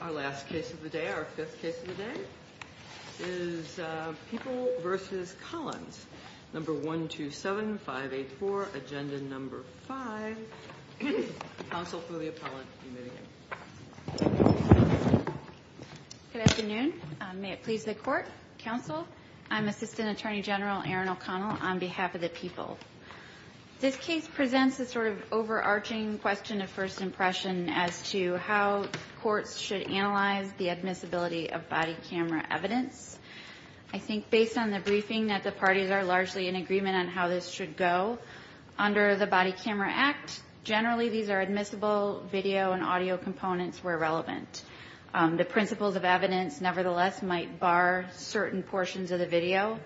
Our last case of the day, our fifth case of the day, is People v. Collins, No. 127-584, Agenda No. 5. Counsel for the Appellant, you may begin. Good afternoon. May it please the Court, Counsel, I'm Assistant Attorney General Erin O'Connell on behalf of the People. This case presents a sort of overarching question of first impression as to how courts should analyze the admissibility of body camera evidence. I think based on the briefing that the parties are largely in agreement on how this should go, under the Body Camera Act, generally these are admissible video and audio components where relevant. The principles of evidence, nevertheless, might bar certain portions of the video.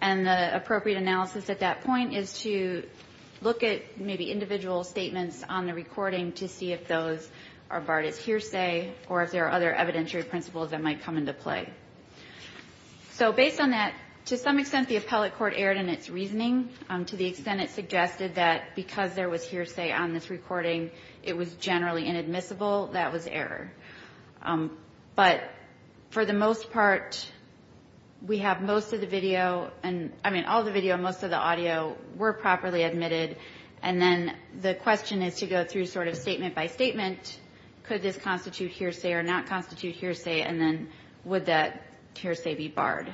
And the appropriate analysis at that point is to look at maybe individual statements on the recording to see if those are barred as hearsay or if there are other evidentiary principles that might come into play. So based on that, to some extent, the appellate court erred in its reasoning to the extent it suggested that because there was hearsay on this recording, it was generally inadmissible. That was error. But for the most part, we have most of the video and, I mean, all the video and most of the audio were properly admitted. And then the question is to go through sort of statement by statement. Could this constitute hearsay or not constitute hearsay? And then would that hearsay be barred?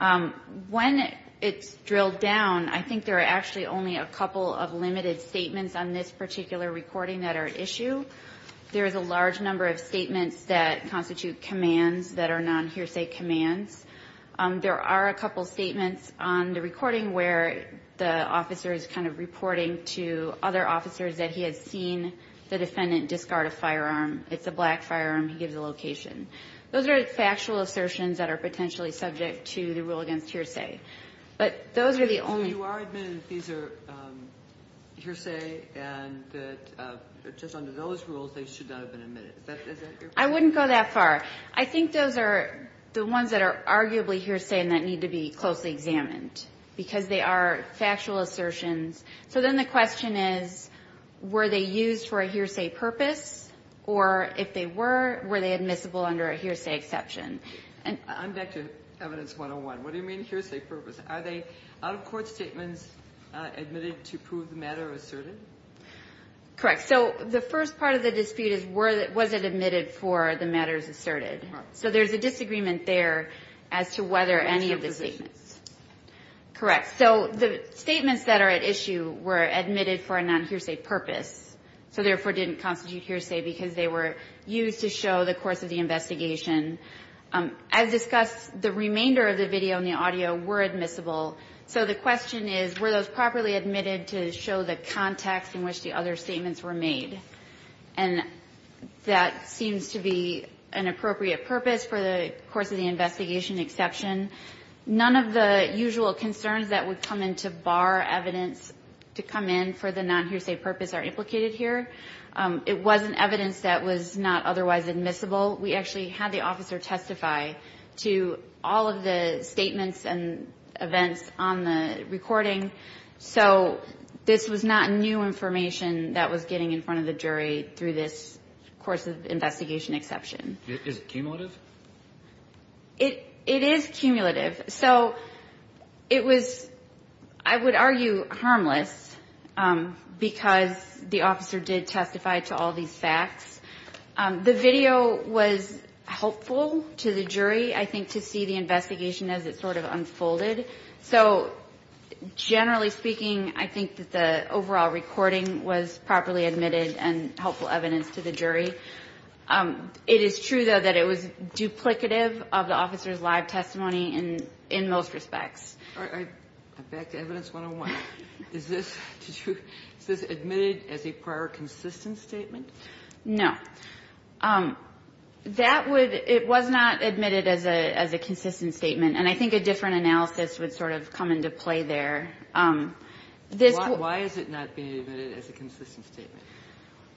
When it's drilled down, I think there are actually only a couple of limited statements on this particular recording that are at issue. There is a large number of statements that constitute commands that are non-hearsay commands. There are a couple statements on the recording where the officer is kind of reporting to other officers that he has seen the defendant discard a firearm. It's a black firearm. He gives the location. Those are factual assertions that are potentially subject to the rule against hearsay. But those are the only ones. So you are admitting that these are hearsay and that just under those rules, they should not have been admitted. Is that your point? I wouldn't go that far. I think those are the ones that are arguably hearsay and that need to be closely examined because they are factual assertions. So then the question is, were they used for a hearsay purpose? Or if they were, were they admissible under a hearsay exception? I'm back to Evidence 101. What do you mean hearsay purpose? Are they out-of-court statements admitted to prove the matter asserted? Correct. So the first part of the dispute is, was it admitted for the matters asserted? So there's a disagreement there as to whether any of the statements. Correct. So the statements that are at issue were admitted for a non-hearsay purpose, so therefore didn't constitute hearsay because they were used to show the course of the investigation. As discussed, the remainder of the video and the audio were admissible. So the question is, were those properly admitted to show the context in which the other statements were made? And that seems to be an appropriate purpose for the course of the investigation exception. None of the usual concerns that would come into bar evidence to come in for the non-hearsay purpose are implicated here. It wasn't evidence that was not otherwise admissible. We actually had the officer testify to all of the statements and events on the recording. So this was not new information that was getting in front of the jury through this course of investigation exception. Is it cumulative? It is cumulative. So it was, I would argue, harmless because the officer did testify to all these facts. The video was helpful to the jury, I think, to see the investigation as it sort of unfolded. So generally speaking, I think that the overall recording was properly admitted and helpful evidence to the jury. It is true, though, that it was duplicative of the officer's live testimony in most respects. All right. Back to evidence 101. Is this admitted as a prior consistent statement? No. That would – it was not admitted as a consistent statement. And I think a different analysis would sort of come into play there. This would – Why is it not being admitted as a consistent statement?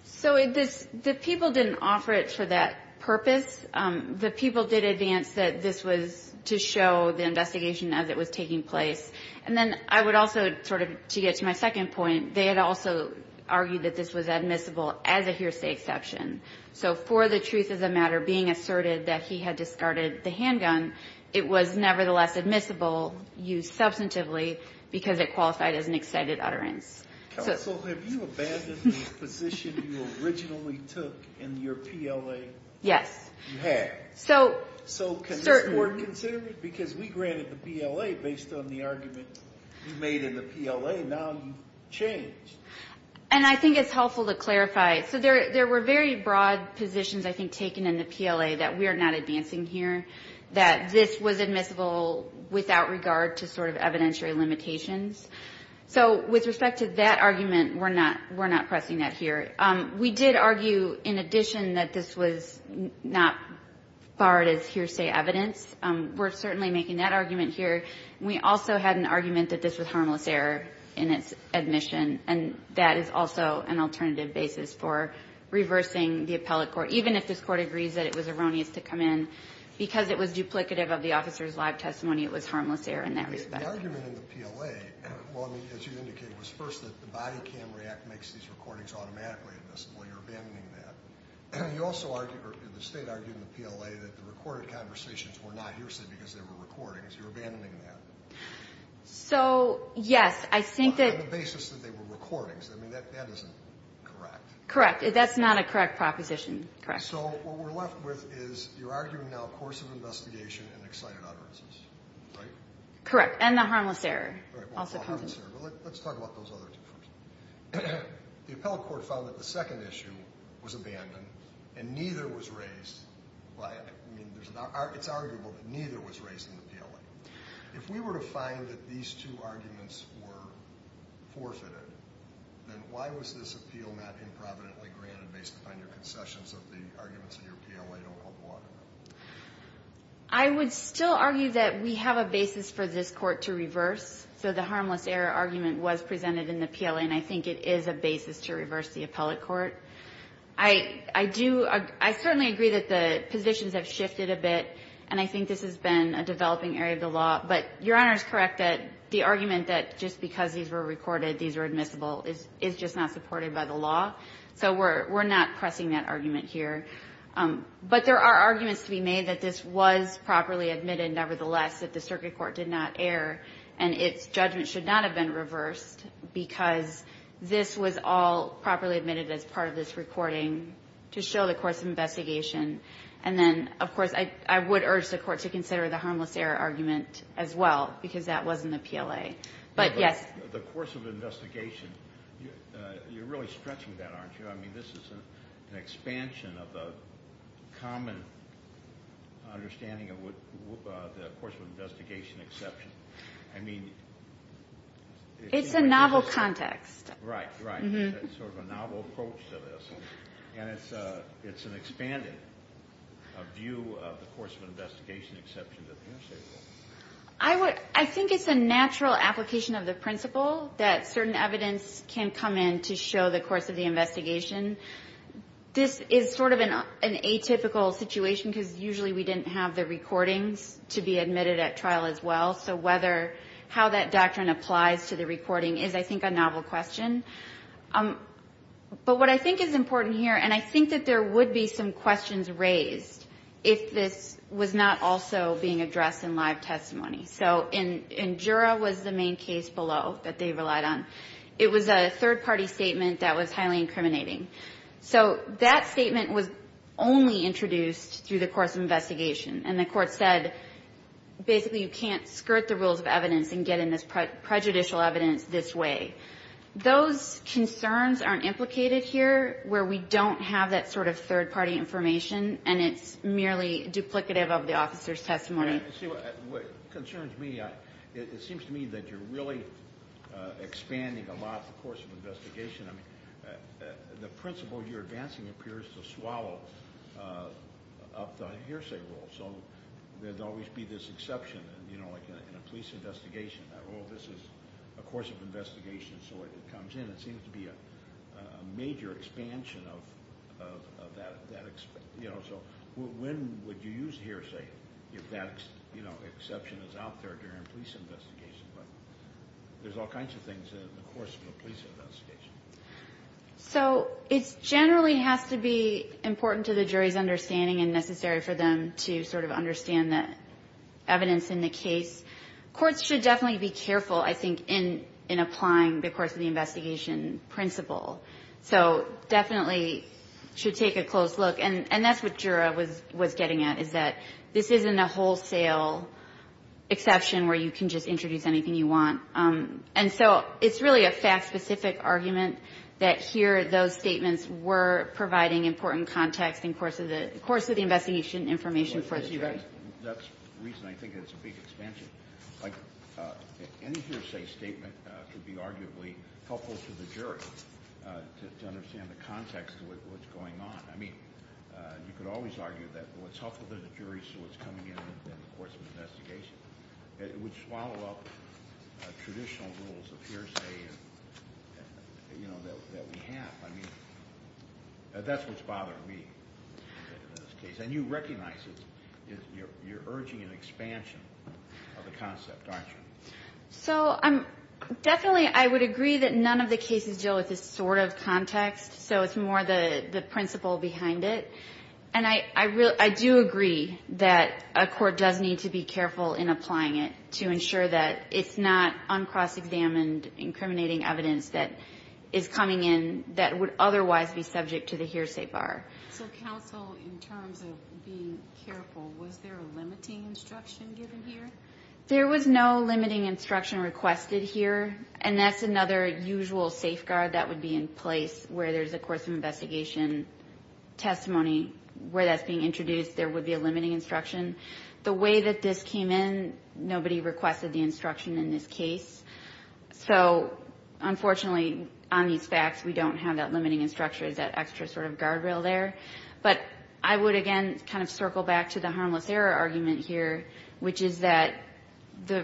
So the people didn't offer it for that purpose. The people did advance that this was to show the investigation as it was taking place. And then I would also sort of, to get to my second point, they had also argued that this was admissible as a hearsay exception. So for the truth of the matter, being asserted that he had discarded the handgun, it was nevertheless admissible, used substantively, because it qualified as an excited utterance. So have you abandoned the position you originally took in your PLA? Yes. You had. So can this court consider it? Because we granted the PLA based on the argument you made in the PLA. Now you've changed. And I think it's helpful to clarify. So there were very broad positions, I think, taken in the PLA that we are not advancing here, that this was admissible without regard to sort of evidentiary limitations. So with respect to that argument, we're not pressing that here. We did argue, in addition, that this was not barred as hearsay evidence. We're certainly making that argument here. We also had an argument that this was harmless error in its admission, and that is also an alternative basis for reversing the appellate court. Even if this court agrees that it was erroneous to come in, because it was duplicative of the officer's live testimony, it was harmless error in that respect. The argument in the PLA, as you indicated, was first that the Body Cam React makes these recordings automatically admissible. You're abandoning that. You also argued, or the State argued in the PLA, that the recorded conversations were not hearsay because they were recordings. You're abandoning that. So, yes. I think that the basis that they were recordings, I mean, that isn't correct. Correct. That's not a correct proposition. Correct. So what we're left with is you're arguing now course of investigation and excited utterances. Correct. And the harmless error also comes in. Well, the harmless error. Let's talk about those other two first. The appellate court found that the second issue was abandoned, and neither was raised by it. I mean, it's arguable that neither was raised in the PLA. If we were to find that these two arguments were forfeited, then why was this appeal not improvidently granted based upon your concessions of the arguments in your PLA don't hold water? I would still argue that we have a basis for this Court to reverse. So the harmless error argument was presented in the PLA, and I think it is a basis to reverse the appellate court. I do – I certainly agree that the positions have shifted a bit, and I think this has been a developing area of the law. But Your Honor is correct that the argument that just because these were recorded these were admissible is just not supported by the law. So we're not pressing that argument here. But there are arguments to be made that this was properly admitted, nevertheless, that the circuit court did not err, and its judgment should not have been reversed because this was all properly admitted as part of this recording to show the course of investigation. And then, of course, I would urge the Court to consider the harmless error argument as well, because that was in the PLA. But, yes. The course of investigation, you're really stretching that, aren't you? I mean, this is an expansion of the common understanding of the course of investigation exception. It's a novel context. Right, right. Sort of a novel approach to this. And it's an expanded view of the course of investigation exception. I think it's a natural application of the principle that certain evidence can come in to show the course of the investigation. This is sort of an atypical situation because usually we didn't have the recordings to be admitted at trial as well. So how that doctrine applies to the recording is, I think, a novel question. But what I think is important here, and I think that there would be some questions raised if this was not also being addressed in live testimony. So in Jura was the main case below that they relied on. It was a third-party statement that was highly incriminating. So that statement was only introduced through the course of investigation. And the court said, basically, you can't skirt the rules of evidence and get in this prejudicial evidence this way. Those concerns aren't implicated here where we don't have that sort of third-party information, and it's merely duplicative of the officer's testimony. It concerns me. It seems to me that you're really expanding a lot the course of investigation. I mean, the principle you're advancing appears to swallow up the hearsay rule. So there would always be this exception, you know, like in a police investigation. Oh, this is a course of investigation, so it comes in. It seems to be a major expansion of that. So when would you use hearsay if that exception is out there during a police investigation? But there's all kinds of things in the course of a police investigation. So it generally has to be important to the jury's understanding and necessary for them to sort of understand the evidence in the case. Courts should definitely be careful, I think, in applying the course of the investigation principle. So definitely should take a close look. And that's what Jura was getting at, is that this isn't a wholesale exception where you can just introduce anything you want. And so it's really a fact-specific argument that here those statements were providing important context in the course of the investigation information for the jury. That's the reason I think it's a big expansion. Like, any hearsay statement could be arguably helpful to the jury to understand the context of what's going on. I mean, you could always argue that what's helpful to the jury is what's coming in in the course of the investigation. It would swallow up traditional rules of hearsay, you know, that we have. I mean, that's what's bothering me in this case. And you recognize it. You're urging an expansion of the concept, aren't you? So definitely I would agree that none of the cases deal with this sort of context, so it's more the principle behind it. And I do agree that a court does need to be careful in applying it to ensure that it's not uncross-examined, incriminating evidence that is coming in that would otherwise be subject to the hearsay bar. So counsel, in terms of being careful, was there a limiting instruction given here? There was no limiting instruction requested here, and that's another usual safeguard that would be in place where there's a course of investigation testimony where that's being introduced, there would be a limiting instruction. The way that this came in, nobody requested the instruction in this case. So, unfortunately, on these facts, we don't have that limiting instruction, that extra sort of guardrail there. But I would, again, kind of circle back to the harmless error argument here, which is that the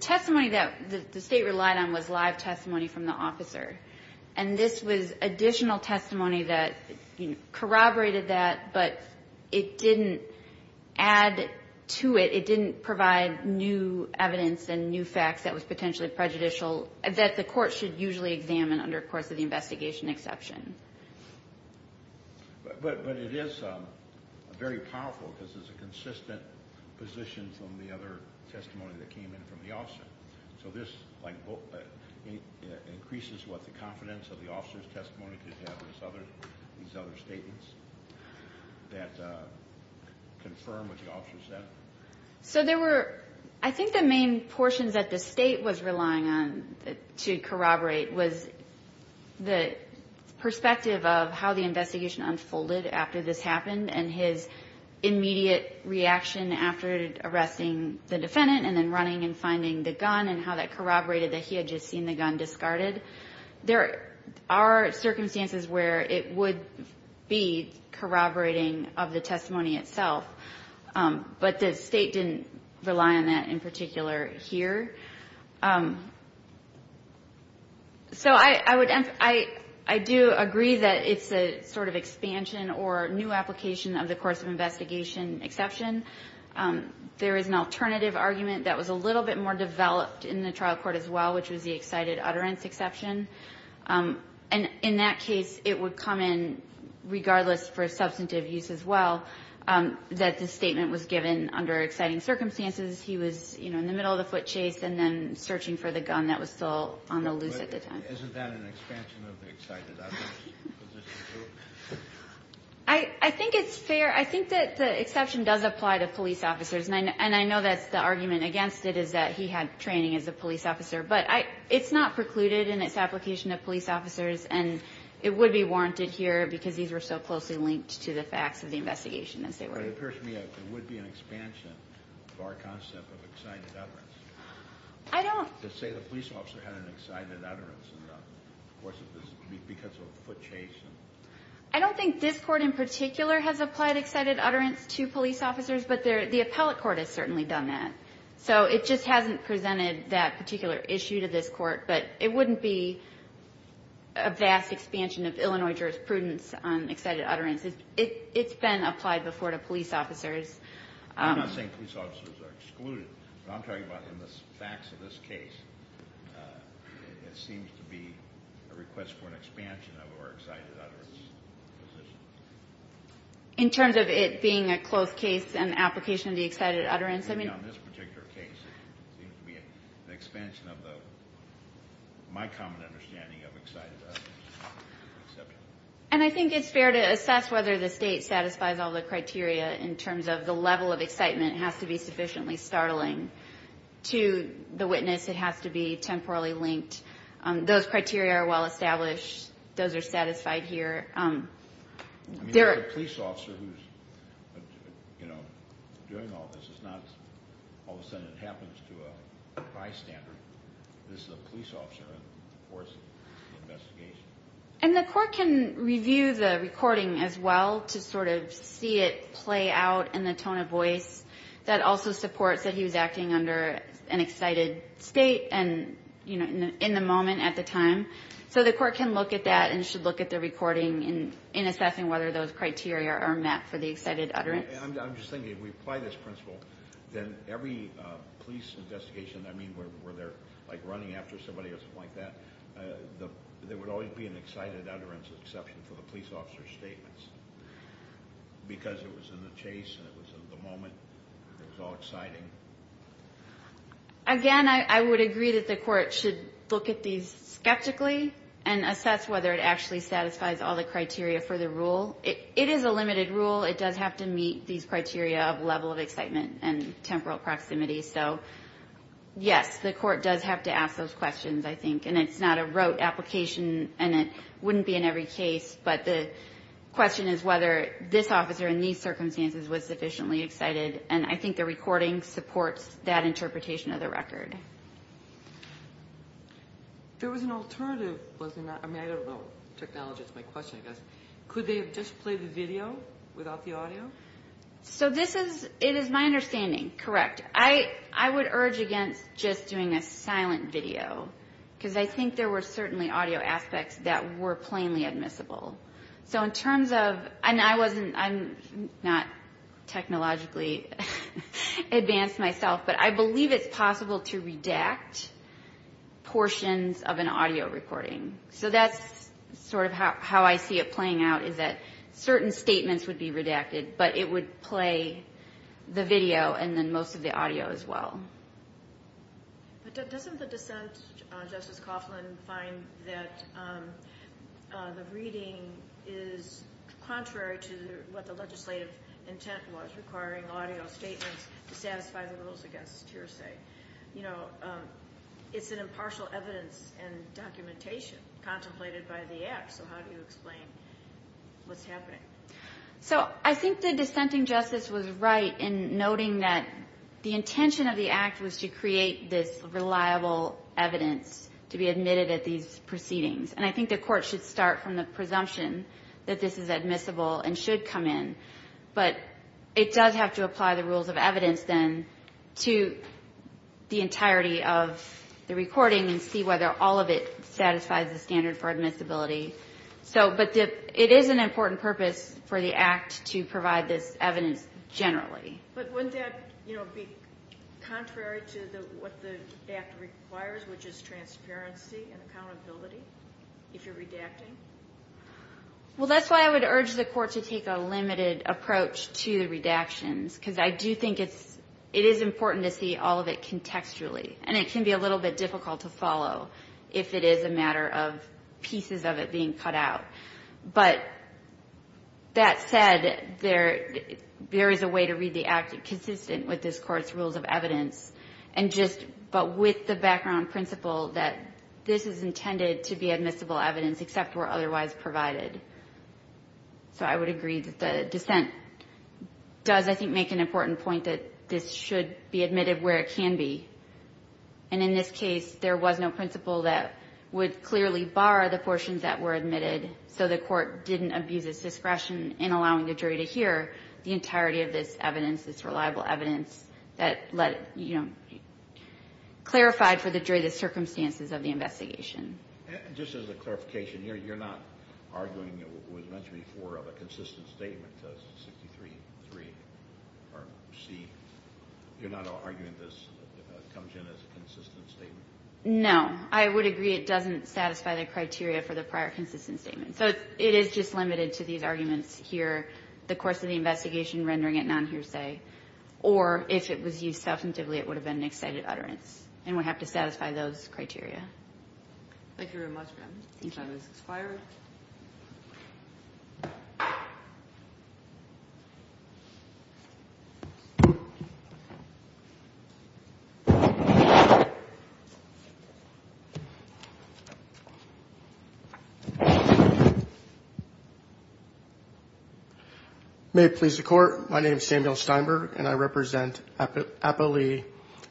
testimony that the state relied on was live testimony from the officer. And this was additional testimony that corroborated that, but it didn't add to it, it didn't provide new evidence and new facts that was potentially prejudicial that the court should usually examine under a course of the investigation exception. But it is very powerful because it's a consistent position from the other testimony that came in from the officer. So this increases what the confidence of the officer's testimony could have on these other statements that confirm what the officer said. So there were, I think the main portions that the state was relying on to corroborate was the perspective of how the investigation unfolded after this happened and his immediate reaction after arresting the defendant and then running and finding the gun and how that corroborated that he had just seen the gun discarded. There are circumstances where it would be corroborating of the testimony itself, but the state didn't rely on that in particular here. So I do agree that it's a sort of expansion or new application of the course of investigation exception. There is an alternative argument that was a little bit more developed in the trial court as well, which was the excited utterance exception. And in that case, it would come in regardless for substantive use as well that the statement was given under exciting circumstances. He was in the middle of the foot chase and then searching for the gun that was still on the loose at the time. Isn't that an expansion of the excited utterance? I think it's fair. I think that the exception does apply to police officers, and I know that the argument against it is that he had training as a police officer. But it's not precluded in its application to police officers, and it would be warranted here because these were so closely linked to the facts of the investigation as they were. But it appears to me that there would be an expansion of our concept of excited utterance. I don't. To say the police officer had an excited utterance because of a foot chase. I don't think this court in particular has applied excited utterance to police officers, but the appellate court has certainly done that. So it just hasn't presented that particular issue to this court, but it wouldn't be a vast expansion of Illinois jurisprudence on excited utterance. It's been applied before to police officers. I'm not saying police officers are excluded, but I'm talking about in the facts of this case, it seems to be a request for an expansion of our excited utterance position. In terms of it being a close case and application of the excited utterance, I mean. On this particular case, it seems to be an expansion of my common understanding of excited utterance. And I think it's fair to assess whether the State satisfies all the criteria in terms of the level of excitement. It has to be sufficiently startling to the witness. It has to be temporally linked. Those criteria are well established. Those are satisfied here. And the court can review the recording as well to sort of see it play out in the tone of voice. That also supports that he was acting under an excited state and in the moment at the time. So the court can look at that and should look at the recording in assessing whether those criteria are met for the excited utterance. I'm just thinking if we apply this principle, then every police investigation, I mean, where they're like running after somebody or something like that, there would always be an excited utterance exception for the police officer's statements. Because it was in the chase and it was in the moment, it was all exciting. Again, I would agree that the court should look at these skeptically and assess whether it actually satisfies all the criteria for the rule. It is a limited rule. It does have to meet these criteria of level of excitement and temporal proximity. So, yes, the court does have to ask those questions, I think. And it's not a rote application and it wouldn't be in every case. But the question is whether this officer in these circumstances was sufficiently excited. And I think the recording supports that interpretation of the record. There was an alternative, wasn't there? I mean, I don't know. Technology is my question, I guess. Could they have just played the video without the audio? So this is, it is my understanding, correct. I would urge against just doing a silent video because I think there were certainly audio aspects that were plainly admissible. So in terms of, and I wasn't, I'm not technologically advanced myself, but I believe it's possible to redact portions of an audio recording. So that's sort of how I see it playing out is that certain statements would be redacted, but it would play the video and then most of the audio as well. But doesn't the dissent, Justice Coughlin, find that the reading is contrary to what the legislative intent was, requiring audio statements to satisfy the rules against hearsay? You know, it's an impartial evidence and documentation contemplated by the Act. So how do you explain what's happening? So I think the dissenting Justice was right in noting that the intention of the Act was to create this reliable evidence to be admitted at these proceedings. And I think the Court should start from the presumption that this is admissible and should come in. But it does have to apply the rules of evidence then to the entirety of the recording and see whether all of it satisfies the standard for admissibility. So, but it is an important purpose for the Act to provide this evidence generally. But wouldn't that, you know, be contrary to what the Act requires, which is transparency and accountability if you're redacting? Well, that's why I would urge the Court to take a limited approach to redactions because I do think it is important to see all of it contextually. And it can be a little bit difficult to follow if it is a matter of pieces of it being cut out. But that said, there is a way to read the Act consistent with this Court's rules of evidence and just but with the background principle that this is intended to be admissible evidence except where otherwise provided. So I would agree that the dissent does, I think, make an important point that this should be admitted where it can be. And in this case, there was no principle that would clearly bar the portions that were admitted. So the Court didn't abuse its discretion in allowing the jury to hear the entirety of this evidence, this reliable evidence that let, you know, clarified for the jury the circumstances of the investigation. And just as a clarification, you're not arguing, as was mentioned before, of a consistent statement, because 63.3 or C, you're not arguing this comes in as a consistent statement? No. I would agree it doesn't satisfy the criteria for the prior consistent statement. So it is just limited to these arguments here, the course of the investigation rendering it non-hearsay, or if it was used substantively, it would have been an excited utterance. And we have to satisfy those criteria. Thank you very much, ma'am. The time has expired. May it please the Court. My name is Samuel Steinberg, and I represent Apo Lee,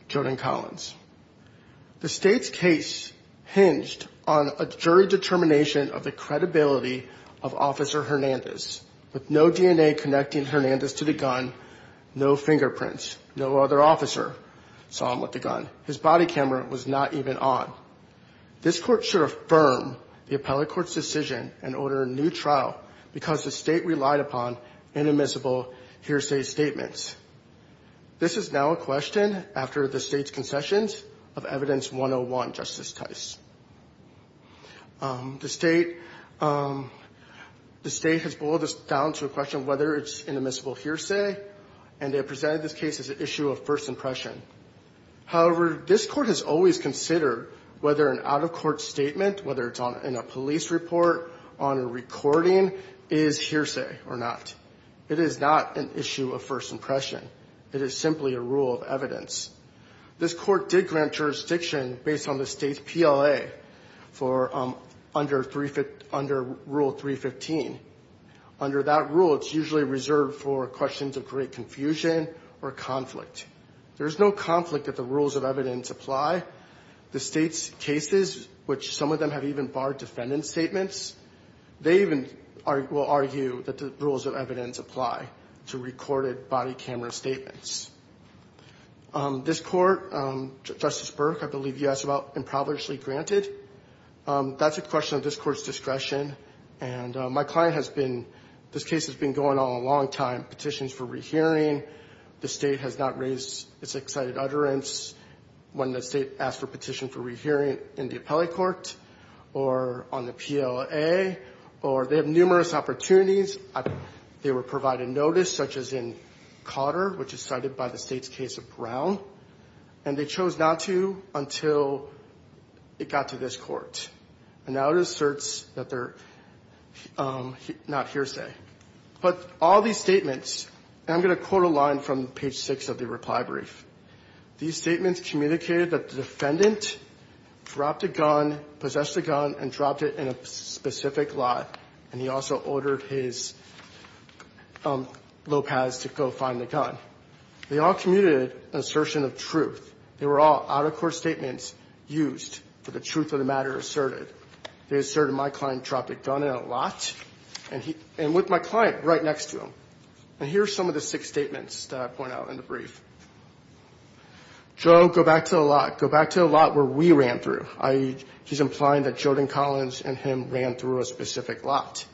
Jodan Collins. The State's case hinged on a jury determination of the credibility of Officer Hernandez. With no DNA connecting Hernandez to the gun, no fingerprints, no other officer saw him with the gun. His body camera was not even on. This Court should affirm the appellate court's decision and order a new trial because the State relied upon inadmissible hearsay statements. This is now a question, after the State's concessions, of Evidence 101, Justice Tice. The State has boiled this down to a question of whether it's inadmissible hearsay, and they have presented this case as an issue of first impression. However, this Court has always considered whether an out-of-court statement, whether it's in a police report, on a recording, is hearsay or not. It is not an issue of first impression. It is simply a rule of evidence. This Court did grant jurisdiction based on the State's PLA under Rule 315. Under that rule, it's usually reserved for questions of great confusion or conflict. There's no conflict if the rules of evidence apply. The State's cases, which some of them have even barred defendant statements, they even will argue that the rules of evidence apply to recorded body camera statements. This Court, Justice Burke, I believe you asked about impoverishly granted. That's a question of this Court's discretion. And my client has been, this case has been going on a long time, petitions for rehearing, the State has not raised its excited utterance when the State asked for a petition for rehearing in the appellate court or on the PLA or they have numerous opportunities. They were provided notice, such as in Cotter, which is cited by the State's case of Brown. And they chose not to until it got to this Court. And now it asserts that they're not hearsay. But all these statements, and I'm going to quote a line from page 6 of the reply brief. These statements communicated that the defendant dropped a gun, possessed a gun, and dropped it in a specific lot, and he also ordered his Lopez to go find the gun. They all commuted an assertion of truth. They were all out-of-court statements used for the truth of the matter asserted. They asserted my client dropped a gun in a lot, and with my client right next to him. And here are some of the six statements that I point out in the brief. Joe, go back to the lot. Go back to the lot where we ran through, i.e., he's implying that Jordan Collins and him ran through a specific lot.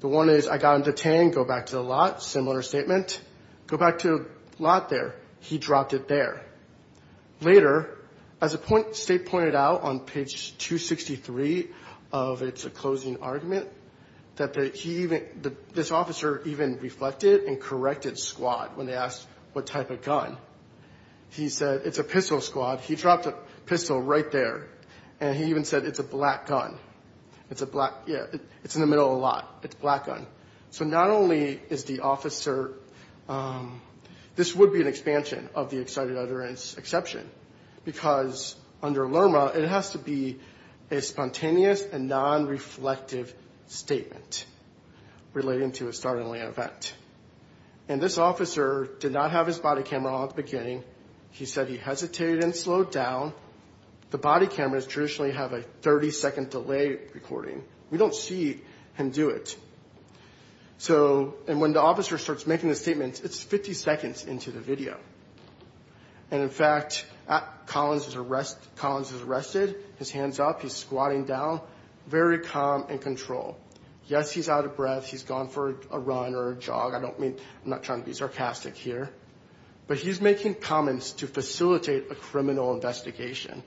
The one is, I got him detained. Go back to the lot. Similar statement. Go back to the lot there. He dropped it there. Later, as the State pointed out on page 263 of its closing argument, this officer even reflected and corrected squad when they asked what type of gun. He said, it's a pistol squad. He dropped a pistol right there. And he even said, it's a black gun. It's in the middle of the lot. It's a black gun. So not only is the officer, this would be an expansion of the excited utterance exception because under LRMA, it has to be a spontaneous and non-reflective statement relating to a startling event. And this officer did not have his body camera on at the beginning. He said he hesitated and slowed down. The body cameras traditionally have a 30-second delay recording. We don't see him do it. And when the officer starts making the statement, it's 50 seconds into the video. And, in fact, Collins is arrested, his hands up, he's squatting down, very calm and controlled. Yes, he's out of breath. He's gone for a run or a jog. I'm not trying to be sarcastic here. But he's making comments to facilitate a criminal investigation.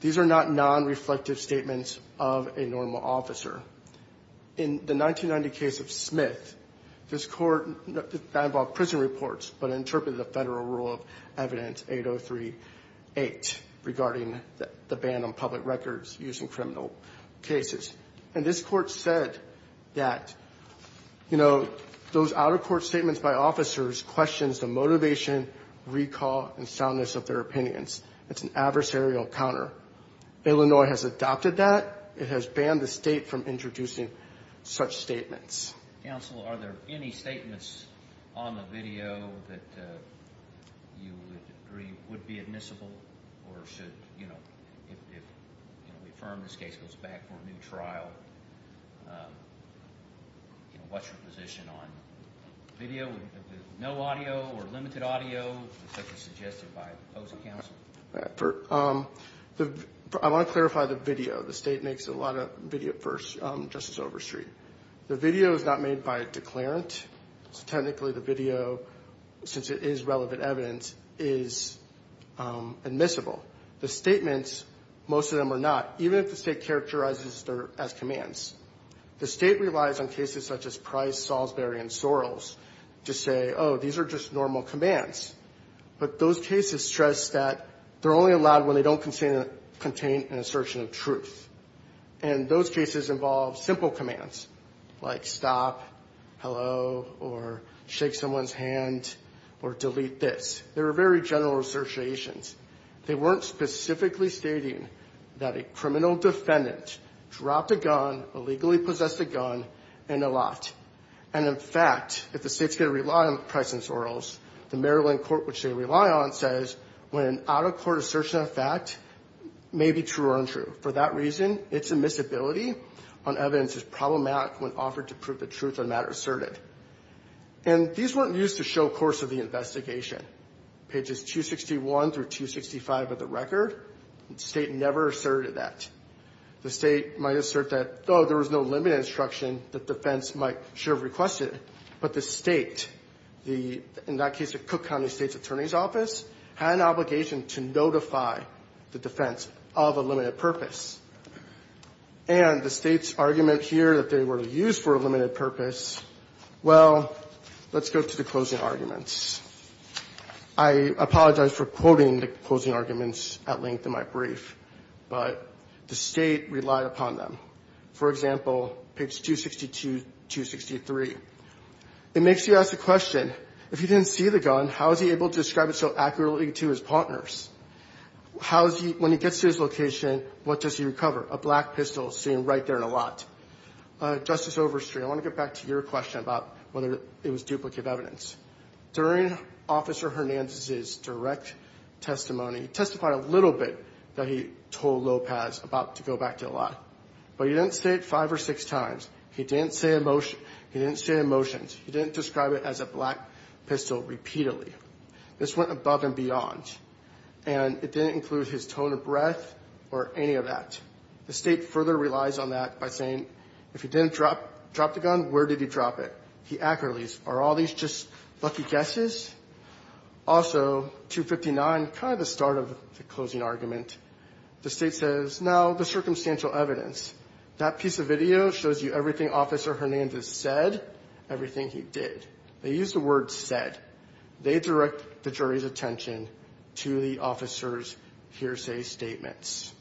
These are not non-reflective statements of a normal officer. In the 1990 case of Smith, this court, that involved prison reports but interpreted the federal rule of evidence, 8038, regarding the ban on public records using criminal cases. And this court said that, you know, those out-of-court statements by officers questions the motivation, recall, and soundness of their opinions. It's an adversarial counter. Illinois has adopted that. It has banned the state from introducing such statements. Counsel, are there any statements on the video that you would agree would be admissible or should, you know, if we affirm this case goes back for a new trial, what's your position on video with no audio or limited audio as suggested by the opposing counsel? I want to clarify the video. The state makes a lot of video for Justice Overstreet. The video is not made by a declarant. So technically the video, since it is relevant evidence, is admissible. The statements, most of them are not, even if the state characterizes them as commands. The state relies on cases such as Price, Salisbury, and Sorrells to say, oh, these are just normal commands. But those cases stress that they're only allowed when they don't contain an assertion of truth. And those cases involve simple commands like stop, hello, or shake someone's hand, or delete this. They were very general assertions. They weren't specifically stating that a criminal defendant dropped a gun, illegally possessed a gun, and a lot. And, in fact, if the state is going to rely on Price and Sorrells, the Maryland court, which they rely on, says when an out-of-court assertion of fact may be true or untrue. For that reason, its admissibility on evidence is problematic when offered to prove the truth of the matter asserted. And these weren't used to show course of the investigation. Pages 261 through 265 of the record, the state never asserted that. The state might assert that, oh, there was no limited instruction that defense might should have requested. But the state, in that case, the Cook County State's Attorney's Office, had an obligation to notify the defense of a limited purpose. And the state's argument here that they were used for a limited purpose, well, let's go to the closing arguments. I apologize for quoting the closing arguments at length in my brief. But the state relied upon them. For example, page 262 to 263. It makes you ask the question, if he didn't see the gun, how is he able to describe it so accurately to his partners? When he gets to his location, what does he recover? A black pistol sitting right there in a lot. Justice Overstreet, I want to get back to your question about whether it was duplicate evidence. During Officer Hernandez's direct testimony, he testified a little bit that he told Lopez about to go back to the lot. But he didn't say it five or six times. He didn't say emotions. He didn't describe it as a black pistol repeatedly. This went above and beyond. And it didn't include his tone of breath or any of that. The state further relies on that by saying, if he didn't drop the gun, where did he drop it? He accurately, are all these just lucky guesses? Also, 259, kind of the start of the closing argument, the state says, no, the circumstantial evidence. That piece of video shows you everything Officer Hernandez said, everything he did. They used the word said. They direct the jury's attention to the officer's hearsay statements.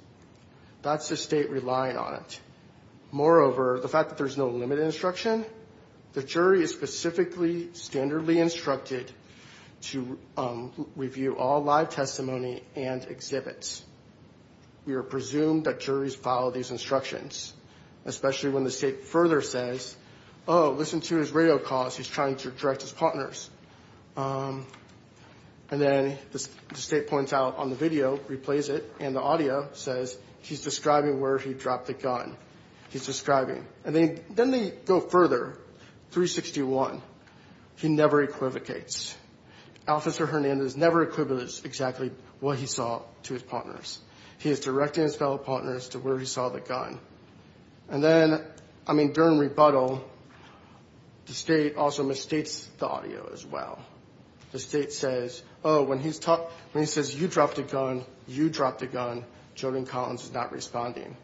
That's the state relying on it. Moreover, the fact that there's no limited instruction, the jury is specifically standardly instructed to review all live testimony and exhibits. We are presumed that juries follow these instructions, especially when the state further says, oh, listen to his radio calls. He's trying to direct his partners. And then the state points out on the video, replays it, and the audio says, he's describing where he dropped the gun. He's describing. And then they go further, 361, he never equivocates. Officer Hernandez never equivocates exactly what he saw to his partners. He is directing his fellow partners to where he saw the gun. And then, I mean, during rebuttal, the state also misstates the audio as well. The state says, oh, when he says you dropped the gun, you dropped the gun. Jody Collins is not responding.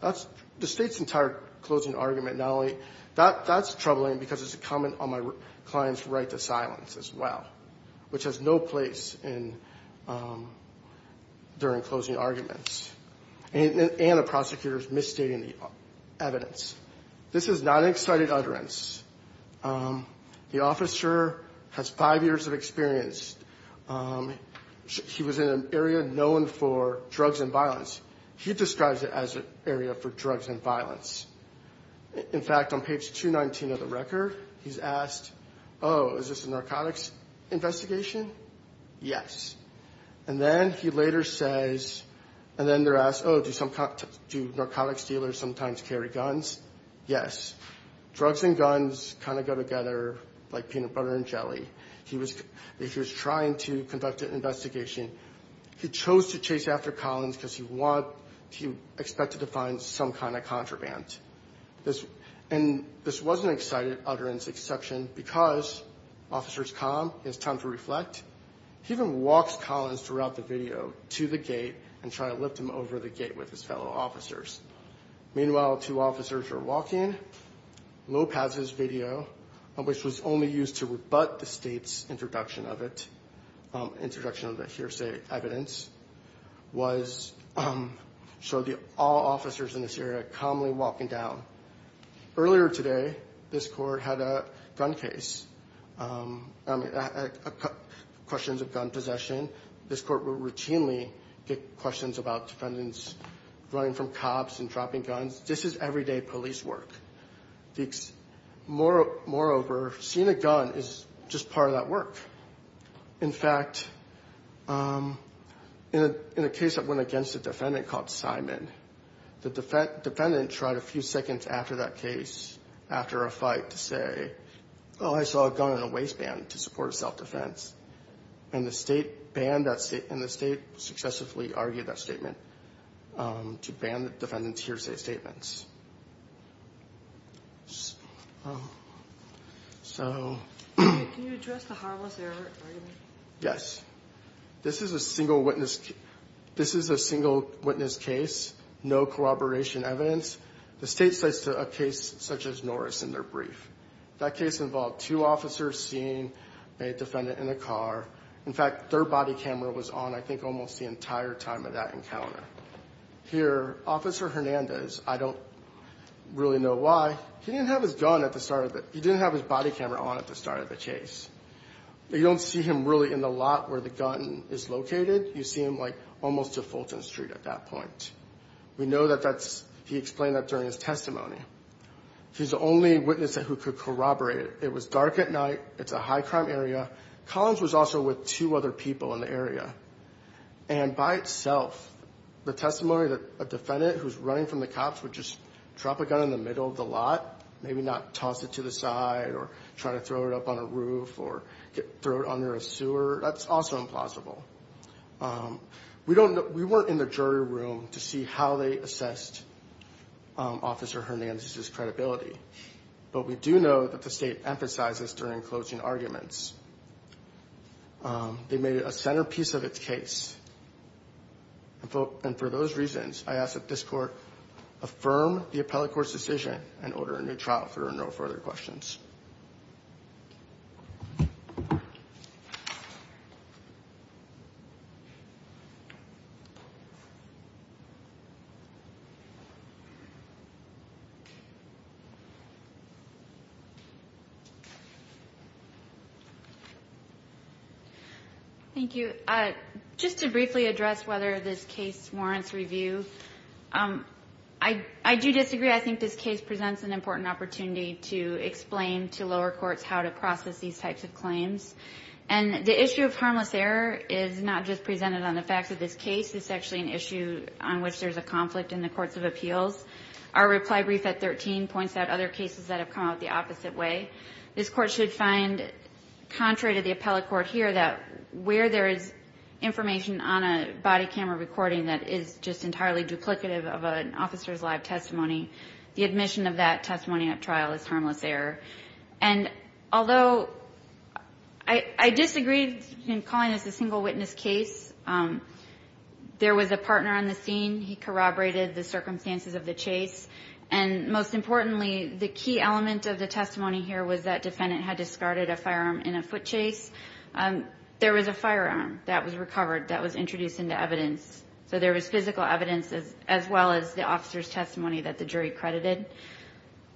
That's the state's entire closing argument. Now, that's troubling because it's a comment on my client's right to silence as well, which has no place in during closing arguments. And a prosecutor's misstating the evidence. This is not an excited utterance. The officer has five years of experience. He was in an area known for drugs and violence. He describes it as an area for drugs and violence. In fact, on page 219 of the record, he's asked, oh, is this a narcotics investigation? Yes. And then he later says, and then they're asked, oh, do narcotics dealers sometimes carry guns? Yes. Drugs and guns kind of go together like peanut butter and jelly. If he was trying to conduct an investigation, he chose to chase after Collins because he expected to find some kind of contraband. And this wasn't an excited utterance exception because officer is calm. He has time to reflect. He even walks Collins throughout the video to the gate and try to lift him over the gate with his fellow officers. Meanwhile, two officers are walking. Lopez's video, which was only used to rebut the state's introduction of it, introduction of the hearsay evidence, showed all officers in this area calmly walking down. Earlier today, this court had a gun case, questions of gun possession. This court will routinely get questions about defendants running from cops and dropping guns. This is everyday police work. Moreover, seeing a gun is just part of that work. In fact, in a case that went against a defendant called Simon, the defendant tried a few seconds after that case, after a fight, to say, oh, I saw a gun in a waistband to support self-defense. And the state banned that statement, and the state successively argued that statement to ban the defendant's hearsay statements. So. Can you address the harmless error argument? Yes. This is a single witness case, no corroboration evidence. The state cites a case such as Norris in their brief. That case involved two officers seeing a defendant in a car. In fact, their body camera was on, I think, almost the entire time of that encounter. Here, Officer Hernandez, I don't really know why, he didn't have his body camera on at the start of the chase. You don't see him really in the lot where the gun is located. You see him, like, almost to Fulton Street at that point. We know that he explained that during his testimony. He's the only witness who could corroborate it. It was dark at night. It's a high-crime area. Collins was also with two other people in the area. And by itself, the testimony that a defendant who's running from the cops would just drop a gun in the middle of the lot, maybe not toss it to the side or try to throw it up on a roof or throw it under a sewer, that's also implausible. We weren't in the jury room to see how they assessed Officer Hernandez's credibility. But we do know that the state emphasized this during closing arguments. They made it a centerpiece of its case. And for those reasons, I ask that this court affirm the appellate court's decision and order a new trial. There are no further questions. Thank you. Just to briefly address whether this case warrants review, I do disagree. I think this case presents an important opportunity to explain to lower courts how to process these types of claims. And the issue of harmless error is not just presented on the facts of this case. It's actually an issue on which there's a conflict in the courts of appeals. Our reply brief at 13 points out other cases that have come out the opposite way. This court should find, contrary to the appellate court here, that where there is information on a body camera recording that is just entirely duplicative of an officer's live testimony, the admission of that testimony at trial is harmless error. And although I disagree in calling this a single witness case, there was a partner on the scene. He corroborated the circumstances of the chase. And most importantly, the key element of the testimony here was that defendant had discarded a firearm in a foot chase. There was a firearm that was recovered that was introduced into evidence. So there was physical evidence as well as the officer's testimony that the jury credited.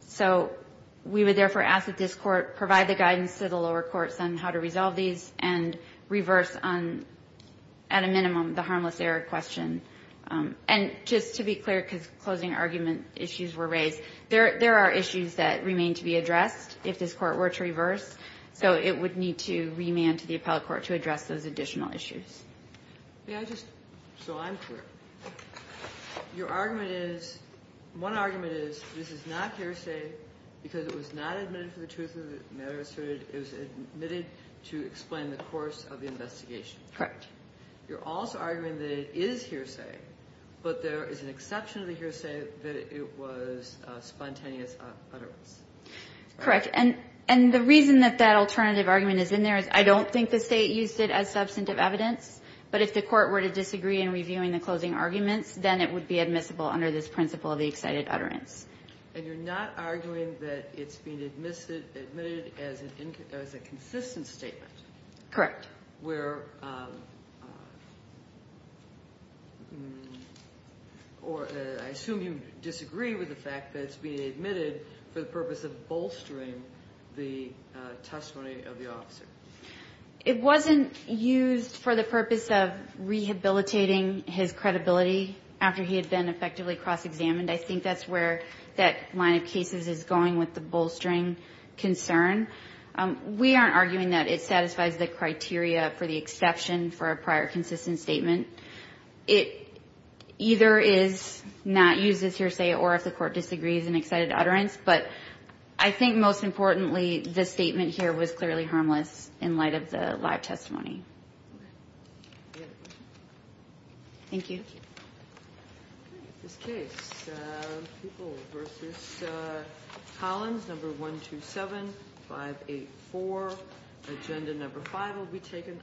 So we would therefore ask that this court provide the guidance to the lower courts on how to resolve these and reverse on, at a minimum, the harmless error question. And just to be clear, because closing argument issues were raised, there are issues that remain to be addressed if this court were to reverse, so it would need to remand to the appellate court to address those additional issues. Kagan. So I'm clear. Your argument is one argument is this is not hearsay because it was not admitted for the truth of the matter asserted. It was admitted to explain the course of the investigation. Correct. You're also arguing that it is hearsay, but there is an exception to the hearsay that it was spontaneous utterance. Correct. And the reason that that alternative argument is in there is I don't think the State used it as substantive evidence, but if the court were to disagree in reviewing the closing arguments, then it would be admissible under this principle of the excited utterance. And you're not arguing that it's been admitted as a consistent statement. Correct. Or I assume you disagree with the fact that it's been admitted for the purpose of bolstering the testimony of the officer. It wasn't used for the purpose of rehabilitating his credibility after he had been effectively cross-examined. I think that's where that line of cases is going with the bolstering concern. We aren't arguing that it satisfies the criteria for the exception for a prior consistent statement. It either is not used as hearsay or if the court disagrees in excited utterance, but I think most importantly the statement here was clearly harmless in light of the live testimony. Thank you. This case, People v. Collins, number 127584. Agenda number five will be taken-